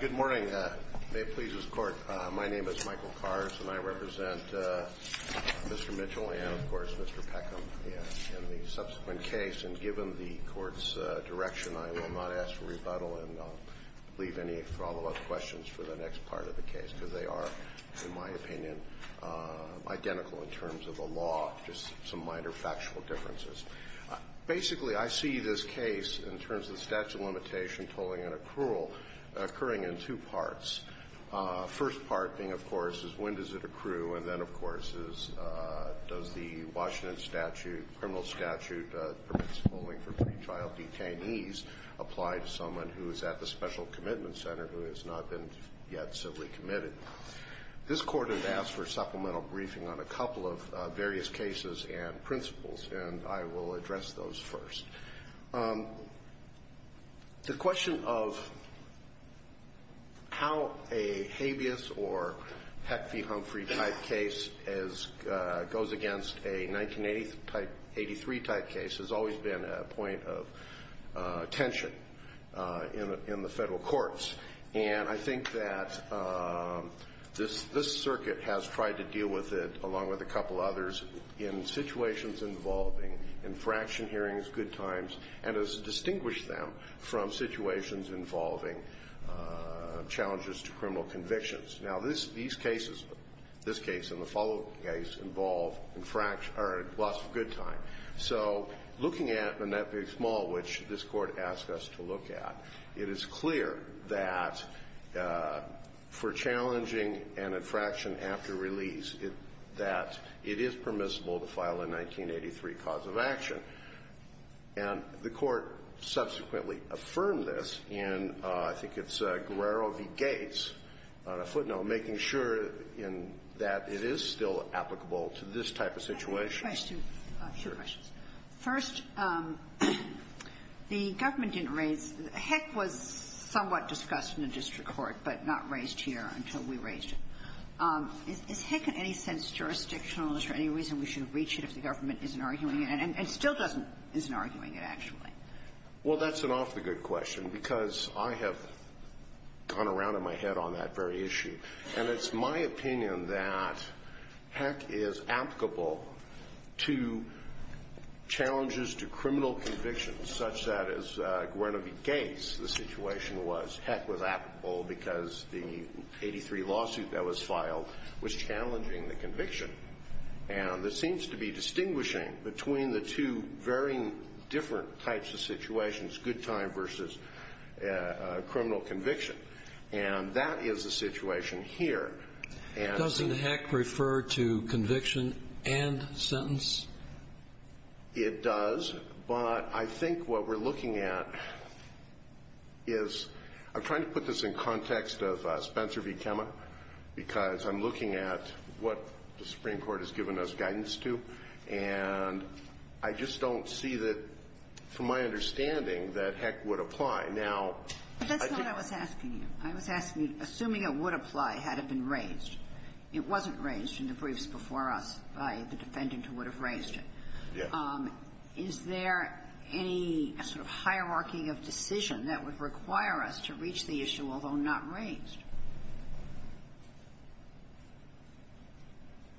Good morning. May it please this Court, my name is Michael Kars, and I represent Mr. Mitchell and, of course, Mr. Peckham in the subsequent case. And given the Court's direction, I will not ask for rebuttal and leave any follow-up questions for the next part of the case, because they are, in my opinion, identical in terms of the law, just some minor factual differences. Basically, I see this case in terms of statute of limitation, tolling and accrual occurring in two parts. First part being, of course, is when does it accrue? And then, of course, is does the Washington statute, criminal statute that permits tolling for pretrial detainees, apply to someone who is at the Special Commitment Center who has not been yet civilly committed? This Court has asked for supplemental briefing on a couple of various cases and principles, and I will address those first. The question of how a habeas or Peck v. Humphrey-type case as goes against a 1983-type case has always been a point of tension in the Federal courts. And I think that this circuit has tried to deal with it, along with a couple others, in situations involving infraction hearings, good times, and has distinguished them from situations involving challenges to criminal convictions. Now, these cases, this case and the following case, involve infraction or lots of good time. So looking at Manette v. Small, which this Court asked us to look at, it is clear that for challenging an infraction after release, that it is permissible to file a 1983 cause of action, and the Court subsequently affirmed this in, I think it's Guerrero v. Gates, on a footnote, making sure in that it is still applicable to this type of situation. First, the government didn't raise the heck was somewhat discussed in the district court, but not raised here until we raised it. Is heck in any sense jurisdictional? Is there any reason we should reach it if the government isn't arguing it and still doesn't, isn't arguing it, actually? Well, that's an awfully good question, because I have gone around in my head on that very issue, and it's my opinion that heck is applicable to challenges to criminal convictions, such that as Guerrero v. Gates, the situation was heck was applicable because the 1983 lawsuit that was filed was challenging the conviction. And this seems to be distinguishing between the two very different types of situations, good time versus criminal conviction. And that is the situation here. Doesn't heck refer to conviction and sentence? It does, but I think what we're looking at is, I'm trying to put this in context of what the Supreme Court has given us guidance to, and I just don't see that, from my understanding, that heck would apply. Now, I think that's what I was asking you. I was asking you, assuming it would apply had it been raised. It wasn't raised in the briefs before us by the defendant who would have raised it. Yes. Is there any sort of hierarchy of decision that would require us to reach the issue, although not raised?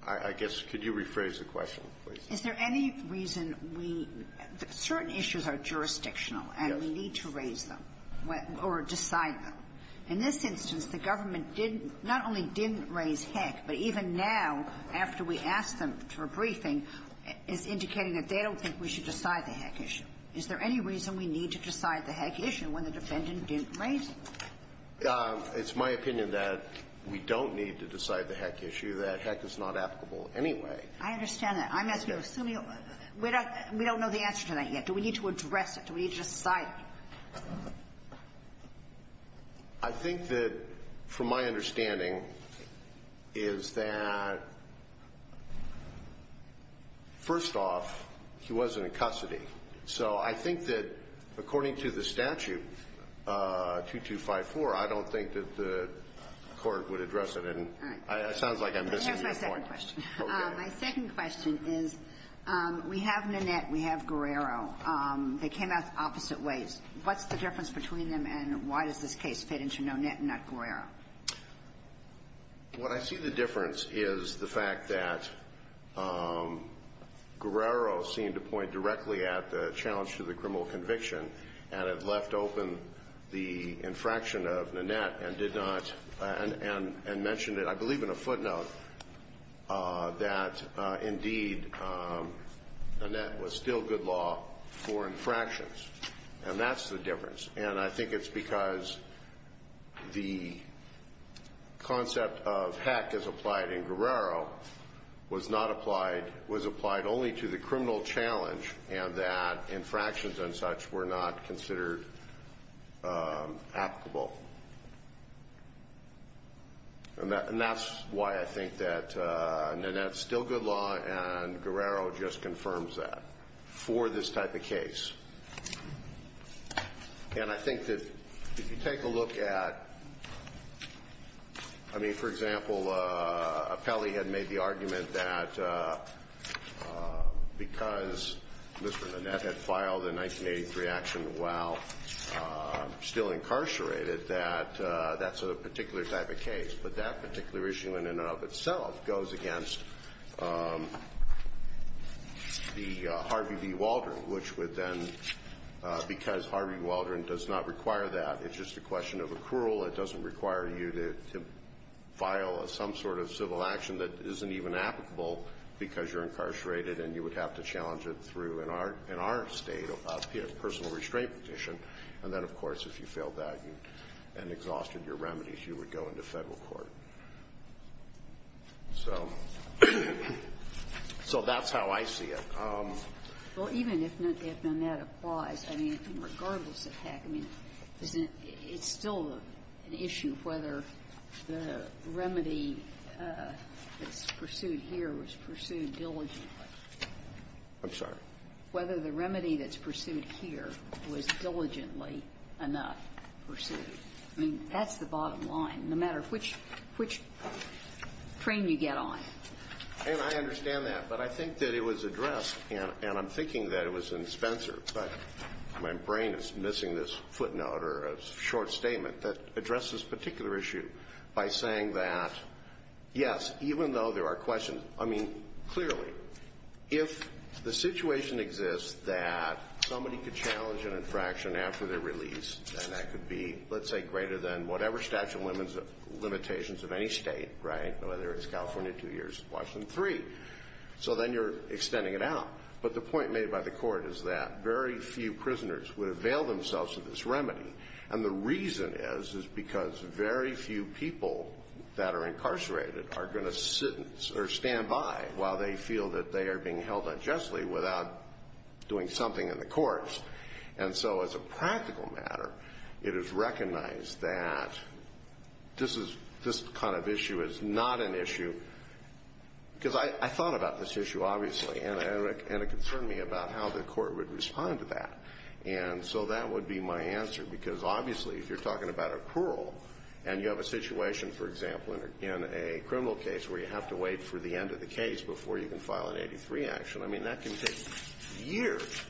I guess, could you rephrase the question, please? Is there any reason we – certain issues are jurisdictional, and we need to raise them or decide them. In this instance, the government didn't – not only didn't raise heck, but even now, after we asked them for a briefing, is indicating that they don't think we should decide the heck issue. Is there any reason we need to decide the heck issue when the defendant didn't raise it? It's my opinion that we don't need to decide the heck issue, that heck is not applicable anyway. I understand that. I'm asking you, assuming – we don't know the answer to that yet. Do we need to address it? Do we need to decide it? I think that, from my understanding, is that, first off, he wasn't in custody. So I think that, according to the statute, 2254, I don't think that the court would address it. All right. It sounds like I'm missing that point. I have my second question. Okay. My second question is, we have Nanette, we have Guerrero. They came out opposite ways. What's the difference between them, and why does this case fit into Nanette and not Guerrero? What I see the difference is the fact that Guerrero seemed to point directly at the challenge to the criminal conviction, and it left open the infraction of Nanette, and did not – and mentioned it, I believe, in a footnote that, indeed, Nanette was still good law for infractions. And that's the difference. And I think it's because the concept of heck as applied in Guerrero was not applied – was applied only to the criminal challenge, and that infractions and such were not considered applicable. And that's why I think that Nanette's still good law, and Guerrero just confirms that for this type of case. And I think that if you take a look at – I mean, for example, Apelli had made the argument that because Mr. Nanette had filed a 1983 action while still incarcerated, that that's a particular type of case. But that particular issue in and of itself goes against the Harvey V. Waldron, which would then – because Harvey V. Waldron does not require that. It's just a question of accrual. It doesn't require you to file some sort of civil action that isn't even applicable because you're incarcerated, and you would have to challenge it through, in our state, a personal restraint petition. And then, of course, if you failed that and exhausted your remedies, you would go into federal court. So that's how I see it. Well, even if Nanette applies, I mean, regardless of heck, I mean, it's still an issue of whether the remedy that's pursued here was pursued diligently. I'm sorry? Whether the remedy that's pursued here was diligently enough pursued. I mean, that's the bottom line, no matter which train you get on. And I understand that. But I think that it was addressed, and I'm thinking that it was in Spencer, but my brain is missing this footnote or a short statement that addresses this particular issue by saying that, yes, even though there are questions – I mean, clearly, if the situation exists that somebody could challenge an infraction after they're released, and that could be, let's say, greater than whatever statute of limitations of any state, right, whether it's California two years, Washington three, so then you're extending it out. But the point made by the court is that very few prisoners would avail themselves of this remedy, and the reason is is because very few people that are incarcerated are going to sit or stand by while they feel that they are being held unjustly without doing something in the courts. And so as a practical matter, it is recognized that this is – this kind of issue is not an issue – because I thought about this issue, obviously, and it concerned me about how the court would respond to that. And so that would be my answer, because obviously if you're talking about a parole and you have a situation, for example, in a criminal case where you have to wait for the end of the case before you can file an 83 action, I mean, that can take years.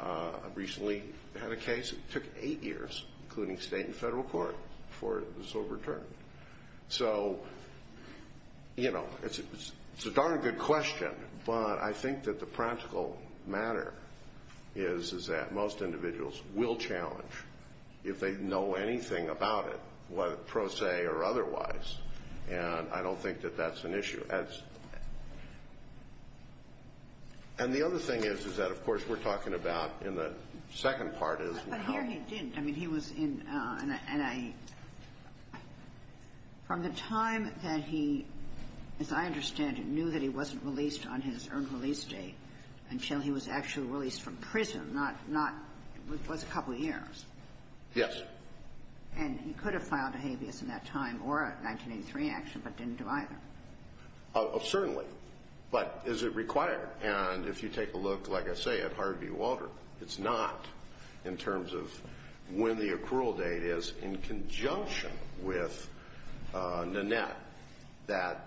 I recently had a case that took eight years, including state and federal court, before it was overturned. So, you know, it's a darn good question, but I think that the practical matter is that most individuals will challenge if they know anything about it, pro se or otherwise, and I don't think that that's an issue. And the other thing is, is that, of course, we're talking about in the second part is how – But here he didn't. I mean, he was in – and I – from the time that he, as I understand it, knew that he wasn't released on his earned release date until he was actually released from prison, not – it was a couple years. Yes. And he could have filed a habeas in that time or a 1983 action, but didn't do either. Certainly. But is it required? And if you take a look, like I say, at Harvey Walter, it's not in terms of when the accrual date is in conjunction with Nanette. That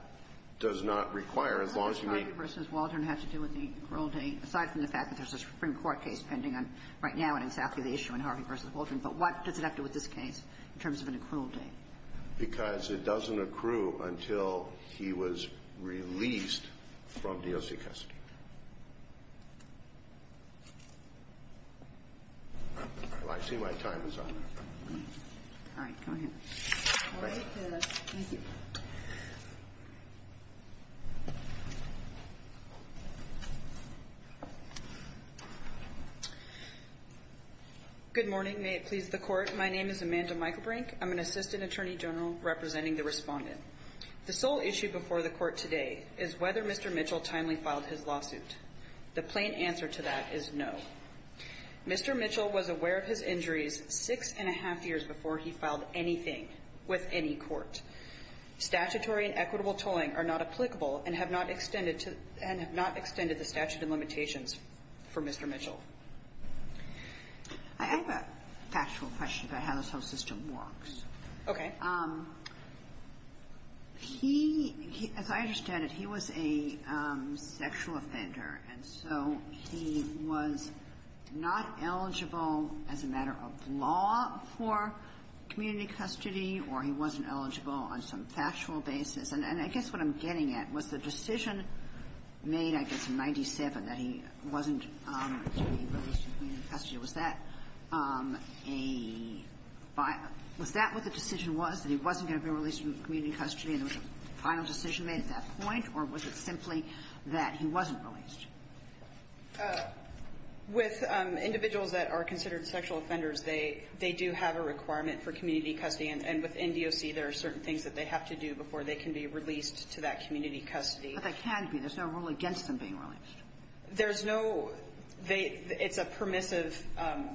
does not require, as long as you meet – How does Harvey versus Walter have to do with the accrual date, aside from the fact that there's a Supreme Court case pending on – right now on exactly the issue in Harvey versus Walter. But what does it have to do with this case in terms of an accrual date? Because it doesn't accrue until he was released from DOC custody. Well, I see my time is up. All right. Go ahead. Thank you. Okay, that's easy. Good morning. May it please the Court. My name is Amanda Michaelbrink. I'm an assistant attorney general representing the respondent. The sole issue before the Court today is whether Mr. Mitchell timely filed his lawsuit. The plain answer to that is no. Mr. Mitchell was aware of his injuries six and a half years before he filed anything with any court. Statutory and equitable tolling are not applicable and have not extended to – and have not extended the statute of limitations for Mr. Mitchell. I have a factual question about how this whole system works. Okay. He – as I understand it, he was a sexual offender. And so he was not eligible as a matter of law for community custody, or he wasn't eligible on some factual basis. And I guess what I'm getting at was the decision made, I guess, in 97, that he wasn't going to be released from community custody. Was that a – was that what the decision was, that he wasn't going to be released from community custody, and there was a final decision made at that point? Or was it simply that he wasn't released? With individuals that are considered sexual offenders, they do have a requirement for community custody, and within DOC there are certain things that they have to do before they can be released to that community custody. But they can be. There's no rule against them being released. There's no – they – it's a permissive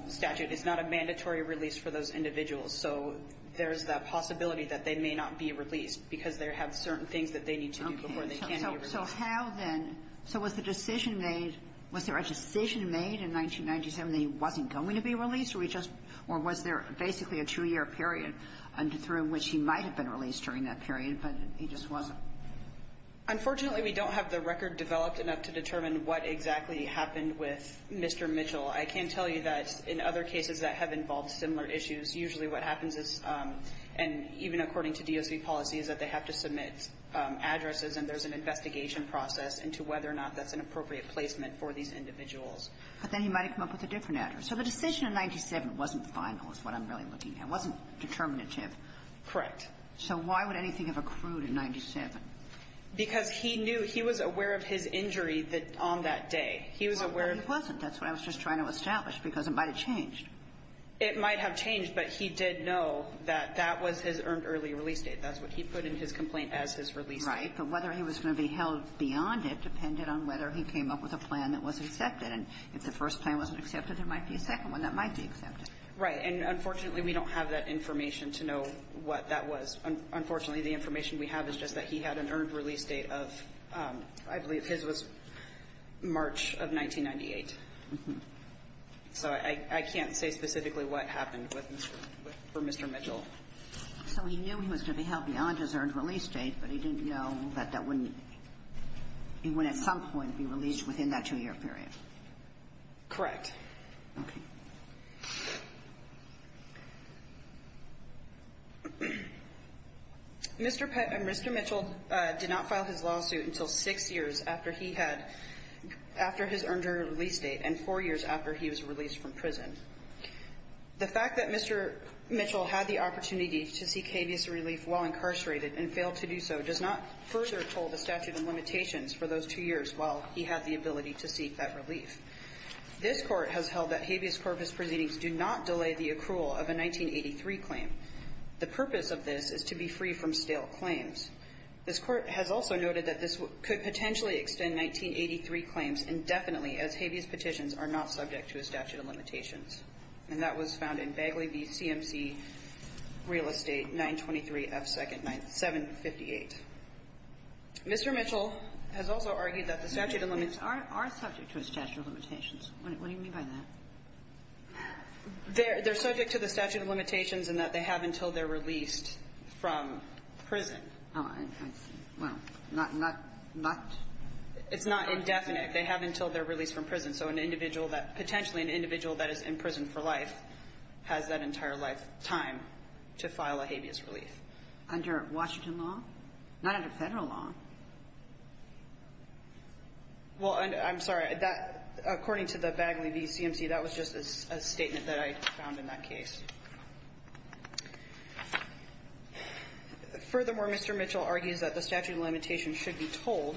statute. It's not a mandatory release for those individuals. So there's the possibility that they may not be released because they have certain things that they need to do before they can be released. Okay. So how then – so was the decision made – was there a decision made in 1997 that he wasn't going to be released, or he just – or was there basically a two-year period through which he might have been released during that period, but he just wasn't? Unfortunately, we don't have the record developed enough to determine what exactly happened with Mr. Mitchell. I can tell you that in other cases that have involved similar issues, usually what according to DOC policy is that they have to submit addresses and there's an investigation process into whether or not that's an appropriate placement for these individuals. But then he might have come up with a different address. So the decision in 1997 wasn't final is what I'm really looking at. It wasn't determinative. Correct. So why would anything have accrued in 1997? Because he knew – he was aware of his injury on that day. He was aware – No, he wasn't. That's what I was just trying to establish, because it might have changed. It might have changed, but he did know that that was his earned early release date. That's what he put in his complaint as his release date. Right, but whether he was going to be held beyond it depended on whether he came up with a plan that was accepted. And if the first plan wasn't accepted, there might be a second one that might be accepted. Right. And unfortunately, we don't have that information to know what that was. Unfortunately, the information we have is just that he had an earned release date of – I believe his was March of 1998. So I can't say specifically what happened for Mr. Mitchell. So he knew he was going to be held beyond his earned release date, but he didn't know that that wouldn't – he wouldn't at some point be released within that two-year period. Correct. Okay. Mr. Mitchell did not file his lawsuit until six years after he had – after his earned release date and four years after he was released from prison. The fact that Mr. Mitchell had the opportunity to seek habeas relief while incarcerated and failed to do so does not further toll the statute of limitations for those two years while he had the ability to seek that relief. This Court has held that habeas corpus proceedings do not delay the accrual of a 1983 claim. The purpose of this is to be free from stale claims. This Court has also noted that this could potentially extend 1983 claims indefinitely as habeas petitions are not subject to a statute of limitations. And that was found in Bagley v. CMC, Real Estate, 923 F. 2nd, 758. Mr. Mitchell has also argued that the statute of limits are subject to a statute of limitations. What do you mean by that? They're subject to the statute of limitations in that they have until they're released from prison. Oh, I see. Well, not – not – not – It's not indefinite. They have until they're released from prison. So an individual that – potentially an individual that is in prison for life has that entire life time to file a habeas relief. Under Washington law? Not under Federal law. Well, I'm sorry. That – according to the Bagley v. CMC, that was just a statement that I found in that Furthermore, Mr. Mitchell argues that the statute of limitations should be told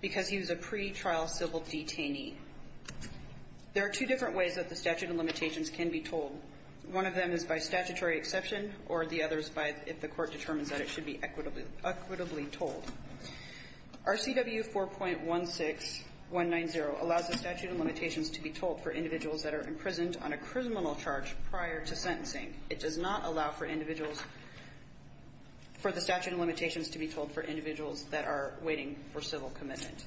because he was a pretrial civil detainee. There are two different ways that the statute of limitations can be told. One of them is by statutory exception, or the other is by if the court determines that it should be equitably – equitably told. RCW 4.16190 allows the statute of limitations to be told for individuals that are imprisoned on a criminal charge prior to sentencing. It does not allow for individuals – for the statute of limitations to be told for individuals that are waiting for civil commitment.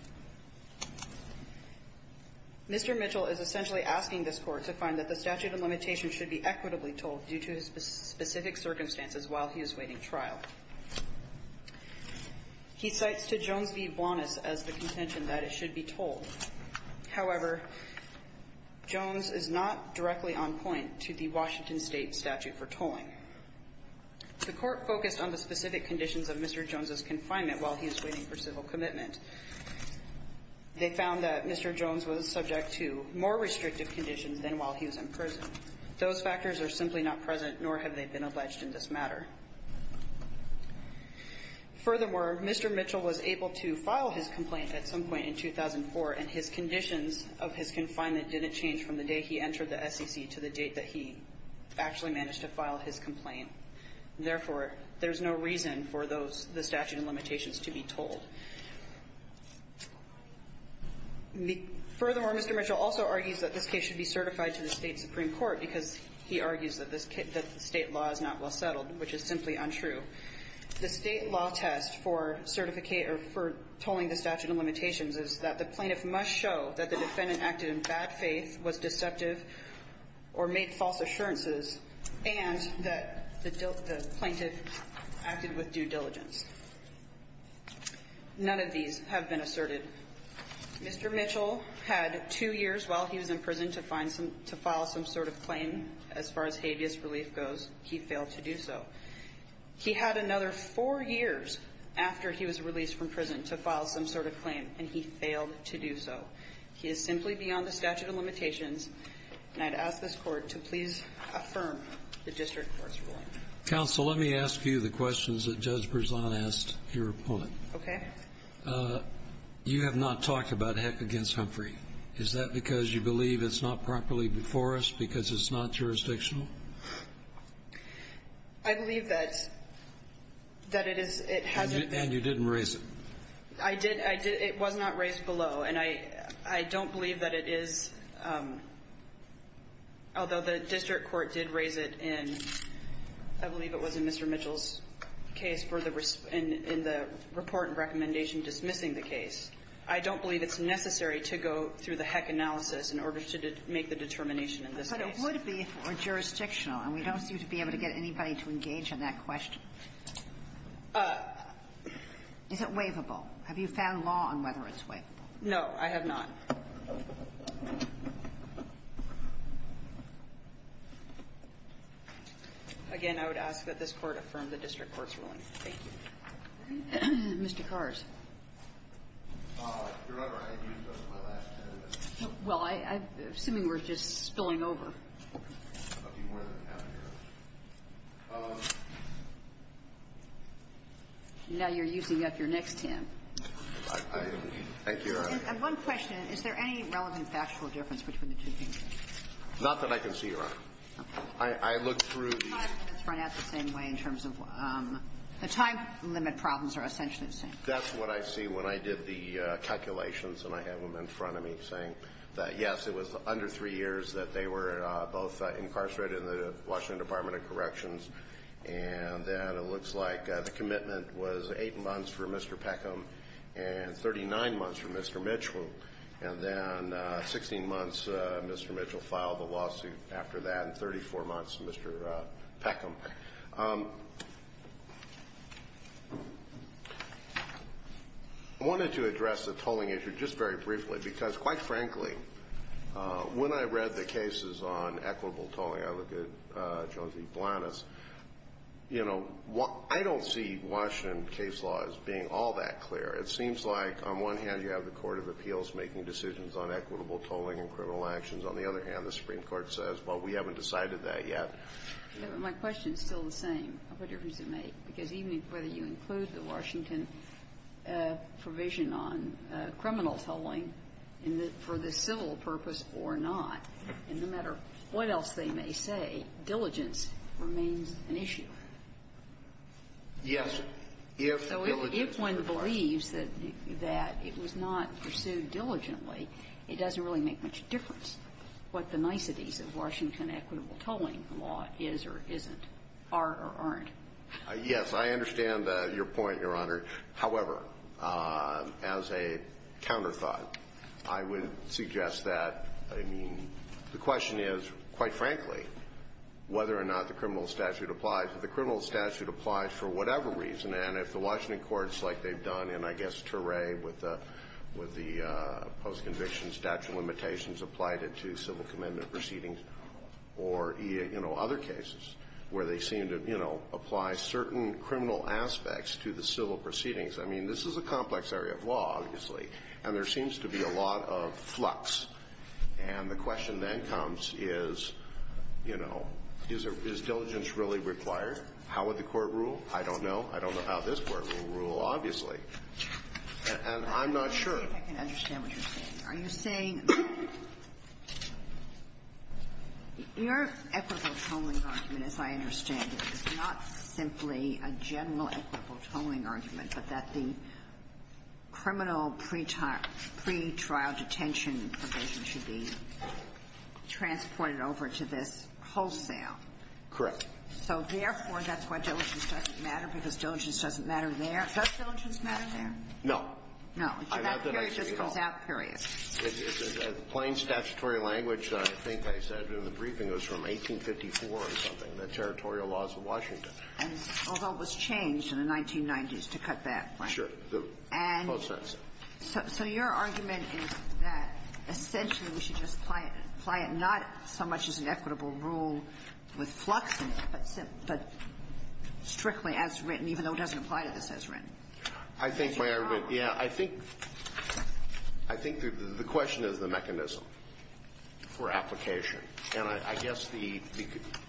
Mr. Mitchell is essentially asking this Court to find that the statute of limitations should be equitably told due to his specific circumstances while he is waiting trial. He cites to Jones v. Blanas as the contention that it should be told. However, Jones is not directly on point to the Washington State statute for tolling. The Court focused on the specific conditions of Mr. Jones' confinement while he is waiting for civil commitment. They found that Mr. Jones was subject to more restrictive conditions than while he was in prison. Those factors are simply not present, nor have they been alleged in this matter. Furthermore, Mr. Mitchell was able to file his complaint at some point in 2004, and his conditions of his confinement didn't change from the day he entered the SEC to the date that he actually managed to file his complaint. Therefore, there's no reason for those – the statute of limitations to be told. Furthermore, Mr. Mitchell also argues that this case should be certified to the State law as not well settled, which is simply untrue. The State law test for certificate – or for tolling the statute of limitations is that the plaintiff must show that the defendant acted in bad faith, was deceptive, or made false assurances, and that the plaintiff acted with due diligence. None of these have been asserted. Mr. Mitchell had two years while he was in prison to find some – to file some sort of claim. As far as habeas relief goes, he failed to do so. He had another four years after he was released from prison to file some sort of claim, and he failed to do so. He is simply beyond the statute of limitations, and I'd ask this Court to please affirm the district court's ruling. Counsel, let me ask you the questions that Judge Berzon asked your opponent. Okay. You have not talked about Heck v. Humphrey. Is that because you believe it's not properly before us because it's not jurisdictional? I believe that it is – it hasn't been. And you didn't raise it. I did. I did. It was not raised below, and I don't believe that it is – although the district court did raise it in – I believe it was in Mr. Mitchell's case for the – in the report and recommendation dismissing the case. I don't believe it's necessary to go through the Heck analysis in order to make the determination in this case. But it would be if it were jurisdictional, and we don't seem to be able to get anybody to engage in that question. Is it waivable? Have you found law on whether it's waivable? No, I have not. Again, I would ask that this Court affirm the district court's ruling. Thank you. Mr. Kars. Your Honor, I had used those in my last ten minutes. Well, I'm assuming we're just spilling over. Okay. I'll be more than happy to. Now you're using up your next ten. Thank you, Your Honor. And one question. Is there any relevant factual difference between the two cases? Not that I can see, Your Honor. Okay. I looked through the – The time limit problems are essentially the same. That's what I see when I did the calculations, and I have them in front of me saying that, yes, it was under three years that they were both incarcerated in the Washington Department of Corrections. And then it looks like the commitment was eight months for Mr. Peckham and 39 months for Mr. Mitchell. And then 16 months Mr. Mitchell filed the lawsuit after that, and 34 months Mr. Peckham. I wanted to address the tolling issue just very briefly because, quite frankly, when I read the cases on equitable tolling, I look at Jones v. Blanas, you know, I don't see Washington case law as being all that clear. It seems like, on one hand, you have the Court of Appeals making decisions on equitable tolling and criminal actions. On the other hand, the Supreme Court says, well, we haven't decided that yet. My question is still the same. What difference does it make? Because even whether you include the Washington provision on criminal tolling for the civil purpose or not, no matter what else they may say, diligence remains an issue. Yes. So if one believes that it was not pursued diligently, it doesn't really make much of a difference whether the tolling law is or isn't, are or aren't. Yes. I understand your point, Your Honor. However, as a counterthought, I would suggest that, I mean, the question is, quite frankly, whether or not the criminal statute applies. If the criminal statute applies for whatever reason, and if the Washington courts, like they've done in, I guess, Ture with the post-conviction statute limitations applied it to civil commitment proceedings or, you know, other cases where they seem to, you know, apply certain criminal aspects to the civil proceedings. I mean, this is a complex area of law, obviously, and there seems to be a lot of flux. And the question then comes is, you know, is diligence really required? How would the Court rule? I don't know. I don't know how this Court will rule, obviously. And I'm not sure. I can understand what you're saying. Are you saying your equitable tolling argument, as I understand it, is not simply a general equitable tolling argument, but that the criminal pretrial detention provision should be transported over to this wholesale. Correct. So therefore, that's why diligence doesn't matter, because diligence doesn't matter there. Does diligence matter there? No. So that period just comes out period. It's a plain statutory language that I think I said in the briefing. It was from 1854 or something, the Territorial Laws of Washington. And although it was changed in the 1990s to cut that point. Sure. And so your argument is that essentially we should just apply it not so much as an equitable rule with flux in it, but strictly as written, even though it doesn't apply to this as written. I think the question is the mechanism for application. And I guess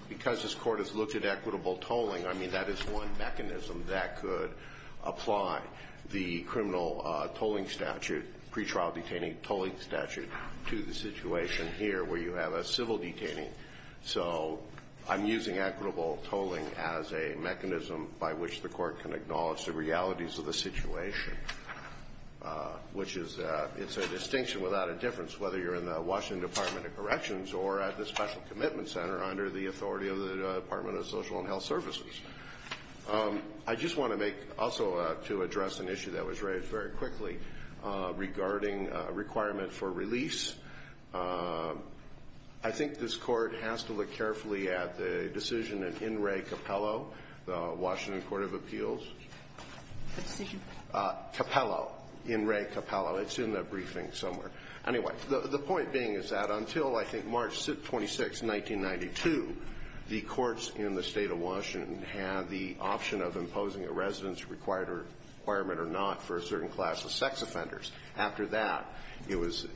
because this Court has looked at equitable tolling, I mean, that is one mechanism that could apply the criminal tolling statute, pretrial detaining tolling statute, to the situation here where you have a civil detaining. So I'm using equitable tolling as a mechanism by which the Court can acknowledge the realities of the situation, which is a distinction without a difference whether you're in the Washington Department of Corrections or at the Special Commitment Center under the authority of the Department of Social and Health Services. I just want to make also to address an issue that was raised very quickly regarding requirement for release. I think this Court has to look carefully at the decision in In re Capello, the decision? Capello, in re Capello. It's in the briefing somewhere. Anyway, the point being is that until I think March 26, 1992, the courts in the State of Washington had the option of imposing a residence requirement or not for a certain class of sex offenders. After that, it was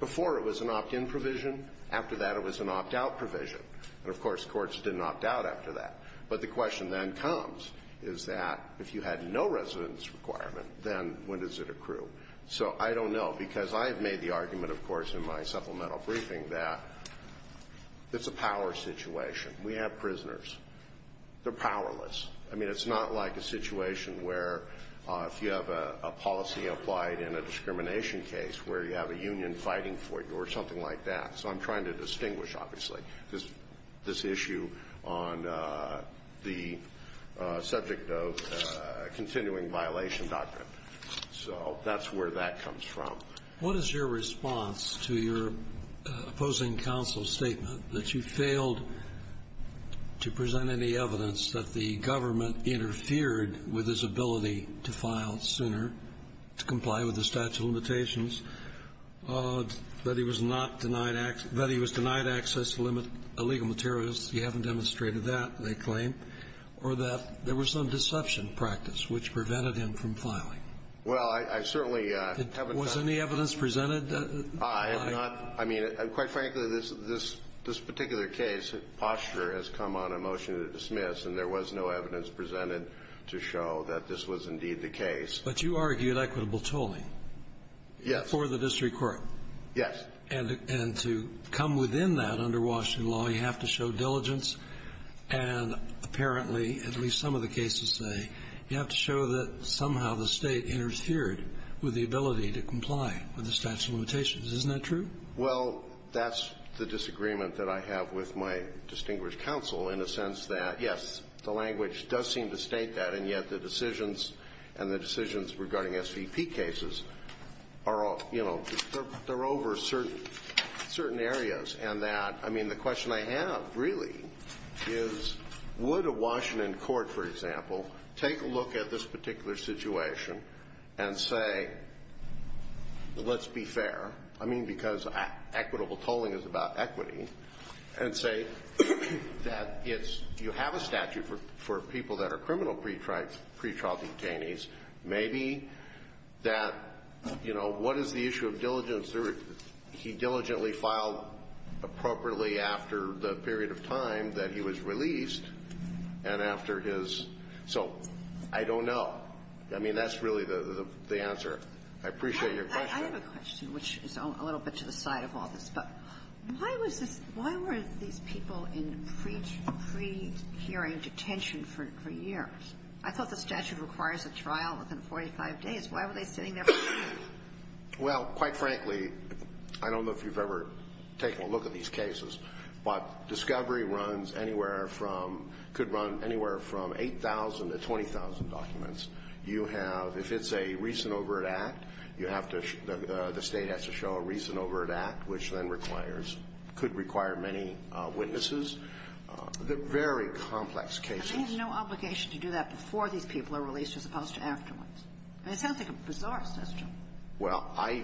before it was an opt-in provision. After that, it was an opt-out provision. And of course, courts didn't opt out after that. But the question then comes is that if you had no residence requirement, then when does it accrue? So I don't know because I've made the argument, of course, in my supplemental briefing that it's a power situation. We have prisoners. They're powerless. I mean, it's not like a situation where if you have a policy applied in a discrimination case where you have a union fighting for you or something like that. So I'm trying to distinguish, obviously, this issue on the subject of continuing violation doctrine. So that's where that comes from. What is your response to your opposing counsel's statement that you failed to present any evidence that the government interfered with his ability to file sooner, to comply with the statute of limitations, that he was not denied access, that he was denied access to legal materials? You haven't demonstrated that, they claim. Or that there was some deception practice which prevented him from filing? Well, I certainly haven't found that. Was any evidence presented? I have not. I mean, quite frankly, this particular case, posture, has come on a motion to dismiss, and there was no evidence presented to show that this was indeed the case. But you argued equitable tolling. Yes. For the district court. Yes. And to come within that under Washington law, you have to show diligence. And apparently, at least some of the cases say, you have to show that somehow the State interfered with the ability to comply with the statute of limitations. Isn't that true? Well, that's the disagreement that I have with my distinguished counsel in a sense that, yes, the language does seem to state that, and yet the decisions and the decisions regarding SVP cases are all, you know, they're over certain areas. And that, I mean, the question I have really is, would a Washington court, for example, take a look at this particular situation and say, let's be fair, I mean, because equitable tolling is about equity, and say that it's you have a statute for people that are criminal pretrial detainees. Maybe that, you know, what is the issue of diligence? He diligently filed appropriately after the period of time that he was released and after his so I don't know. I mean, that's really the answer. I appreciate your question. I have a question, which is a little bit to the side of all this, but why was this people in pre-pre-prehearing detention for years? I thought the statute requires a trial within 45 days. Why were they sitting there? Well, quite frankly, I don't know if you've ever taken a look at these cases, but discovery runs anywhere from could run anywhere from 8,000 to 20,000 documents. You have, if it's a recent overt act, you have to, the state has to show a recent overt act, which then requires, could require many witnesses. They're very complex cases. And they have no obligation to do that before these people are released as opposed to afterwards. It sounds like a bizarre system. Well, I,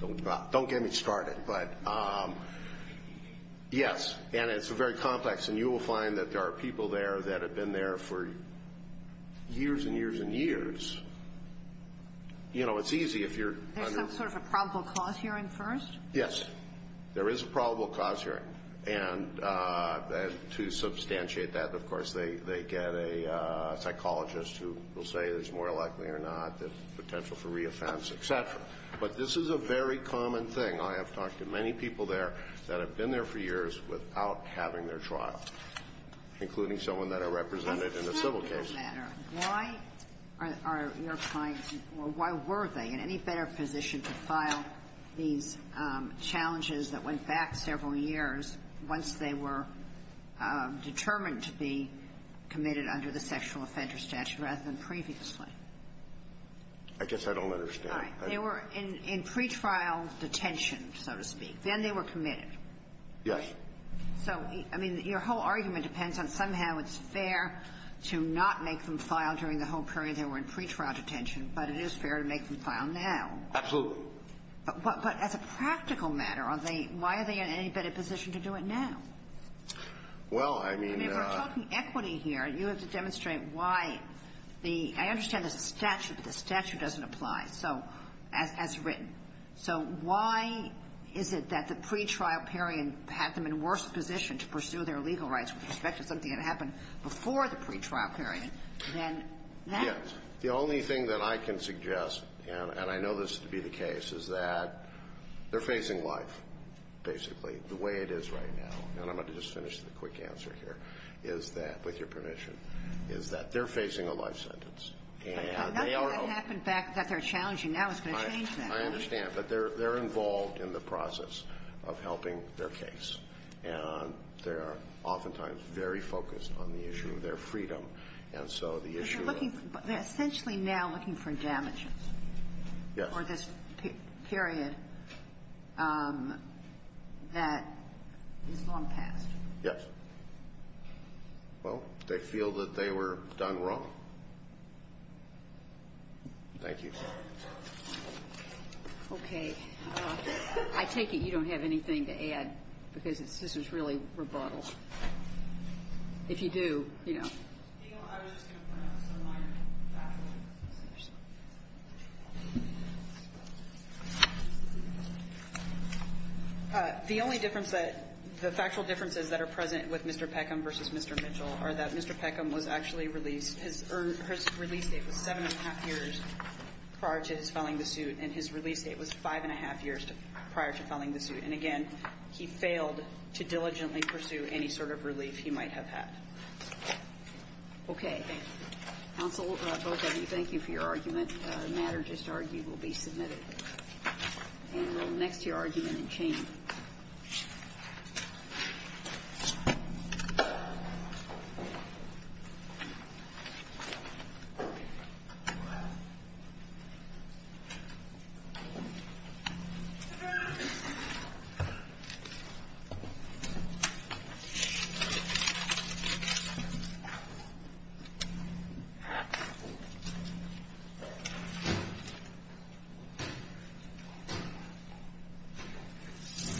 don't get me started, but yes, and it's very complex, and you will find that there are people there that have been there for years and years and years. You know, it's easy if you're under. There's some sort of a probable cause hearing first? Yes, there is a probable cause hearing. And to substantiate that, of course, they get a psychologist who will say there's more likely or not there's potential for re-offense, et cetera. But this is a very common thing. I have talked to many people there that have been there for years without having their trial, including someone that I represented in a civil case. Why are your clients, or why were they in any better position to file these challenges that went back several years once they were determined to be committed under the sexual offender statute rather than previously? I guess I don't understand. They were in pretrial detention, so to speak. Then they were committed. Yes. So, I mean, your whole argument depends on somehow it's fair to not make them file during the whole period they were in pretrial detention, but it is fair to make them file now. Absolutely. But as a practical matter, why are they in any better position to do it now? Well, I mean. I mean, we're talking equity here. You have to demonstrate why the – I understand the statute, but the statute doesn't apply. So – as written. So why is it that the pretrial period had them in worse position to pursue their legal rights with respect to something that happened before the pretrial period than that? Yes. The only thing that I can suggest, and I know this to be the case, is that they're facing life, basically, the way it is right now. And I'm going to just finish the quick answer here, is that, with your permission, is that they're facing a life sentence. But nothing that happened back that they're challenging now is going to change that. I understand. But they're involved in the process of helping their case. And they are oftentimes very focused on the issue of their freedom. And so the issue of – But they're looking – they're essentially now looking for damages. Yes. For this period that is long past. Yes. Well, they feel that they were done wrong. Thank you. Okay. I take it you don't have anything to add, because this is really rebuttal. If you do, you know. I was just going to point out some minor factual differences. The only difference that – the factual differences that are present with Mr. Peckham versus Mr. Mitchell are that Mr. Peckham was actually released – his release date was seven and a half years prior to his filing the suit. And his release date was five and a half years prior to filing the suit. And, again, he failed to diligently pursue any sort of relief he might have had. Okay. Counsel, both of you, thank you for your arguments. The matter just argued will be submitted. And we'll next to your argument and change. Thank you.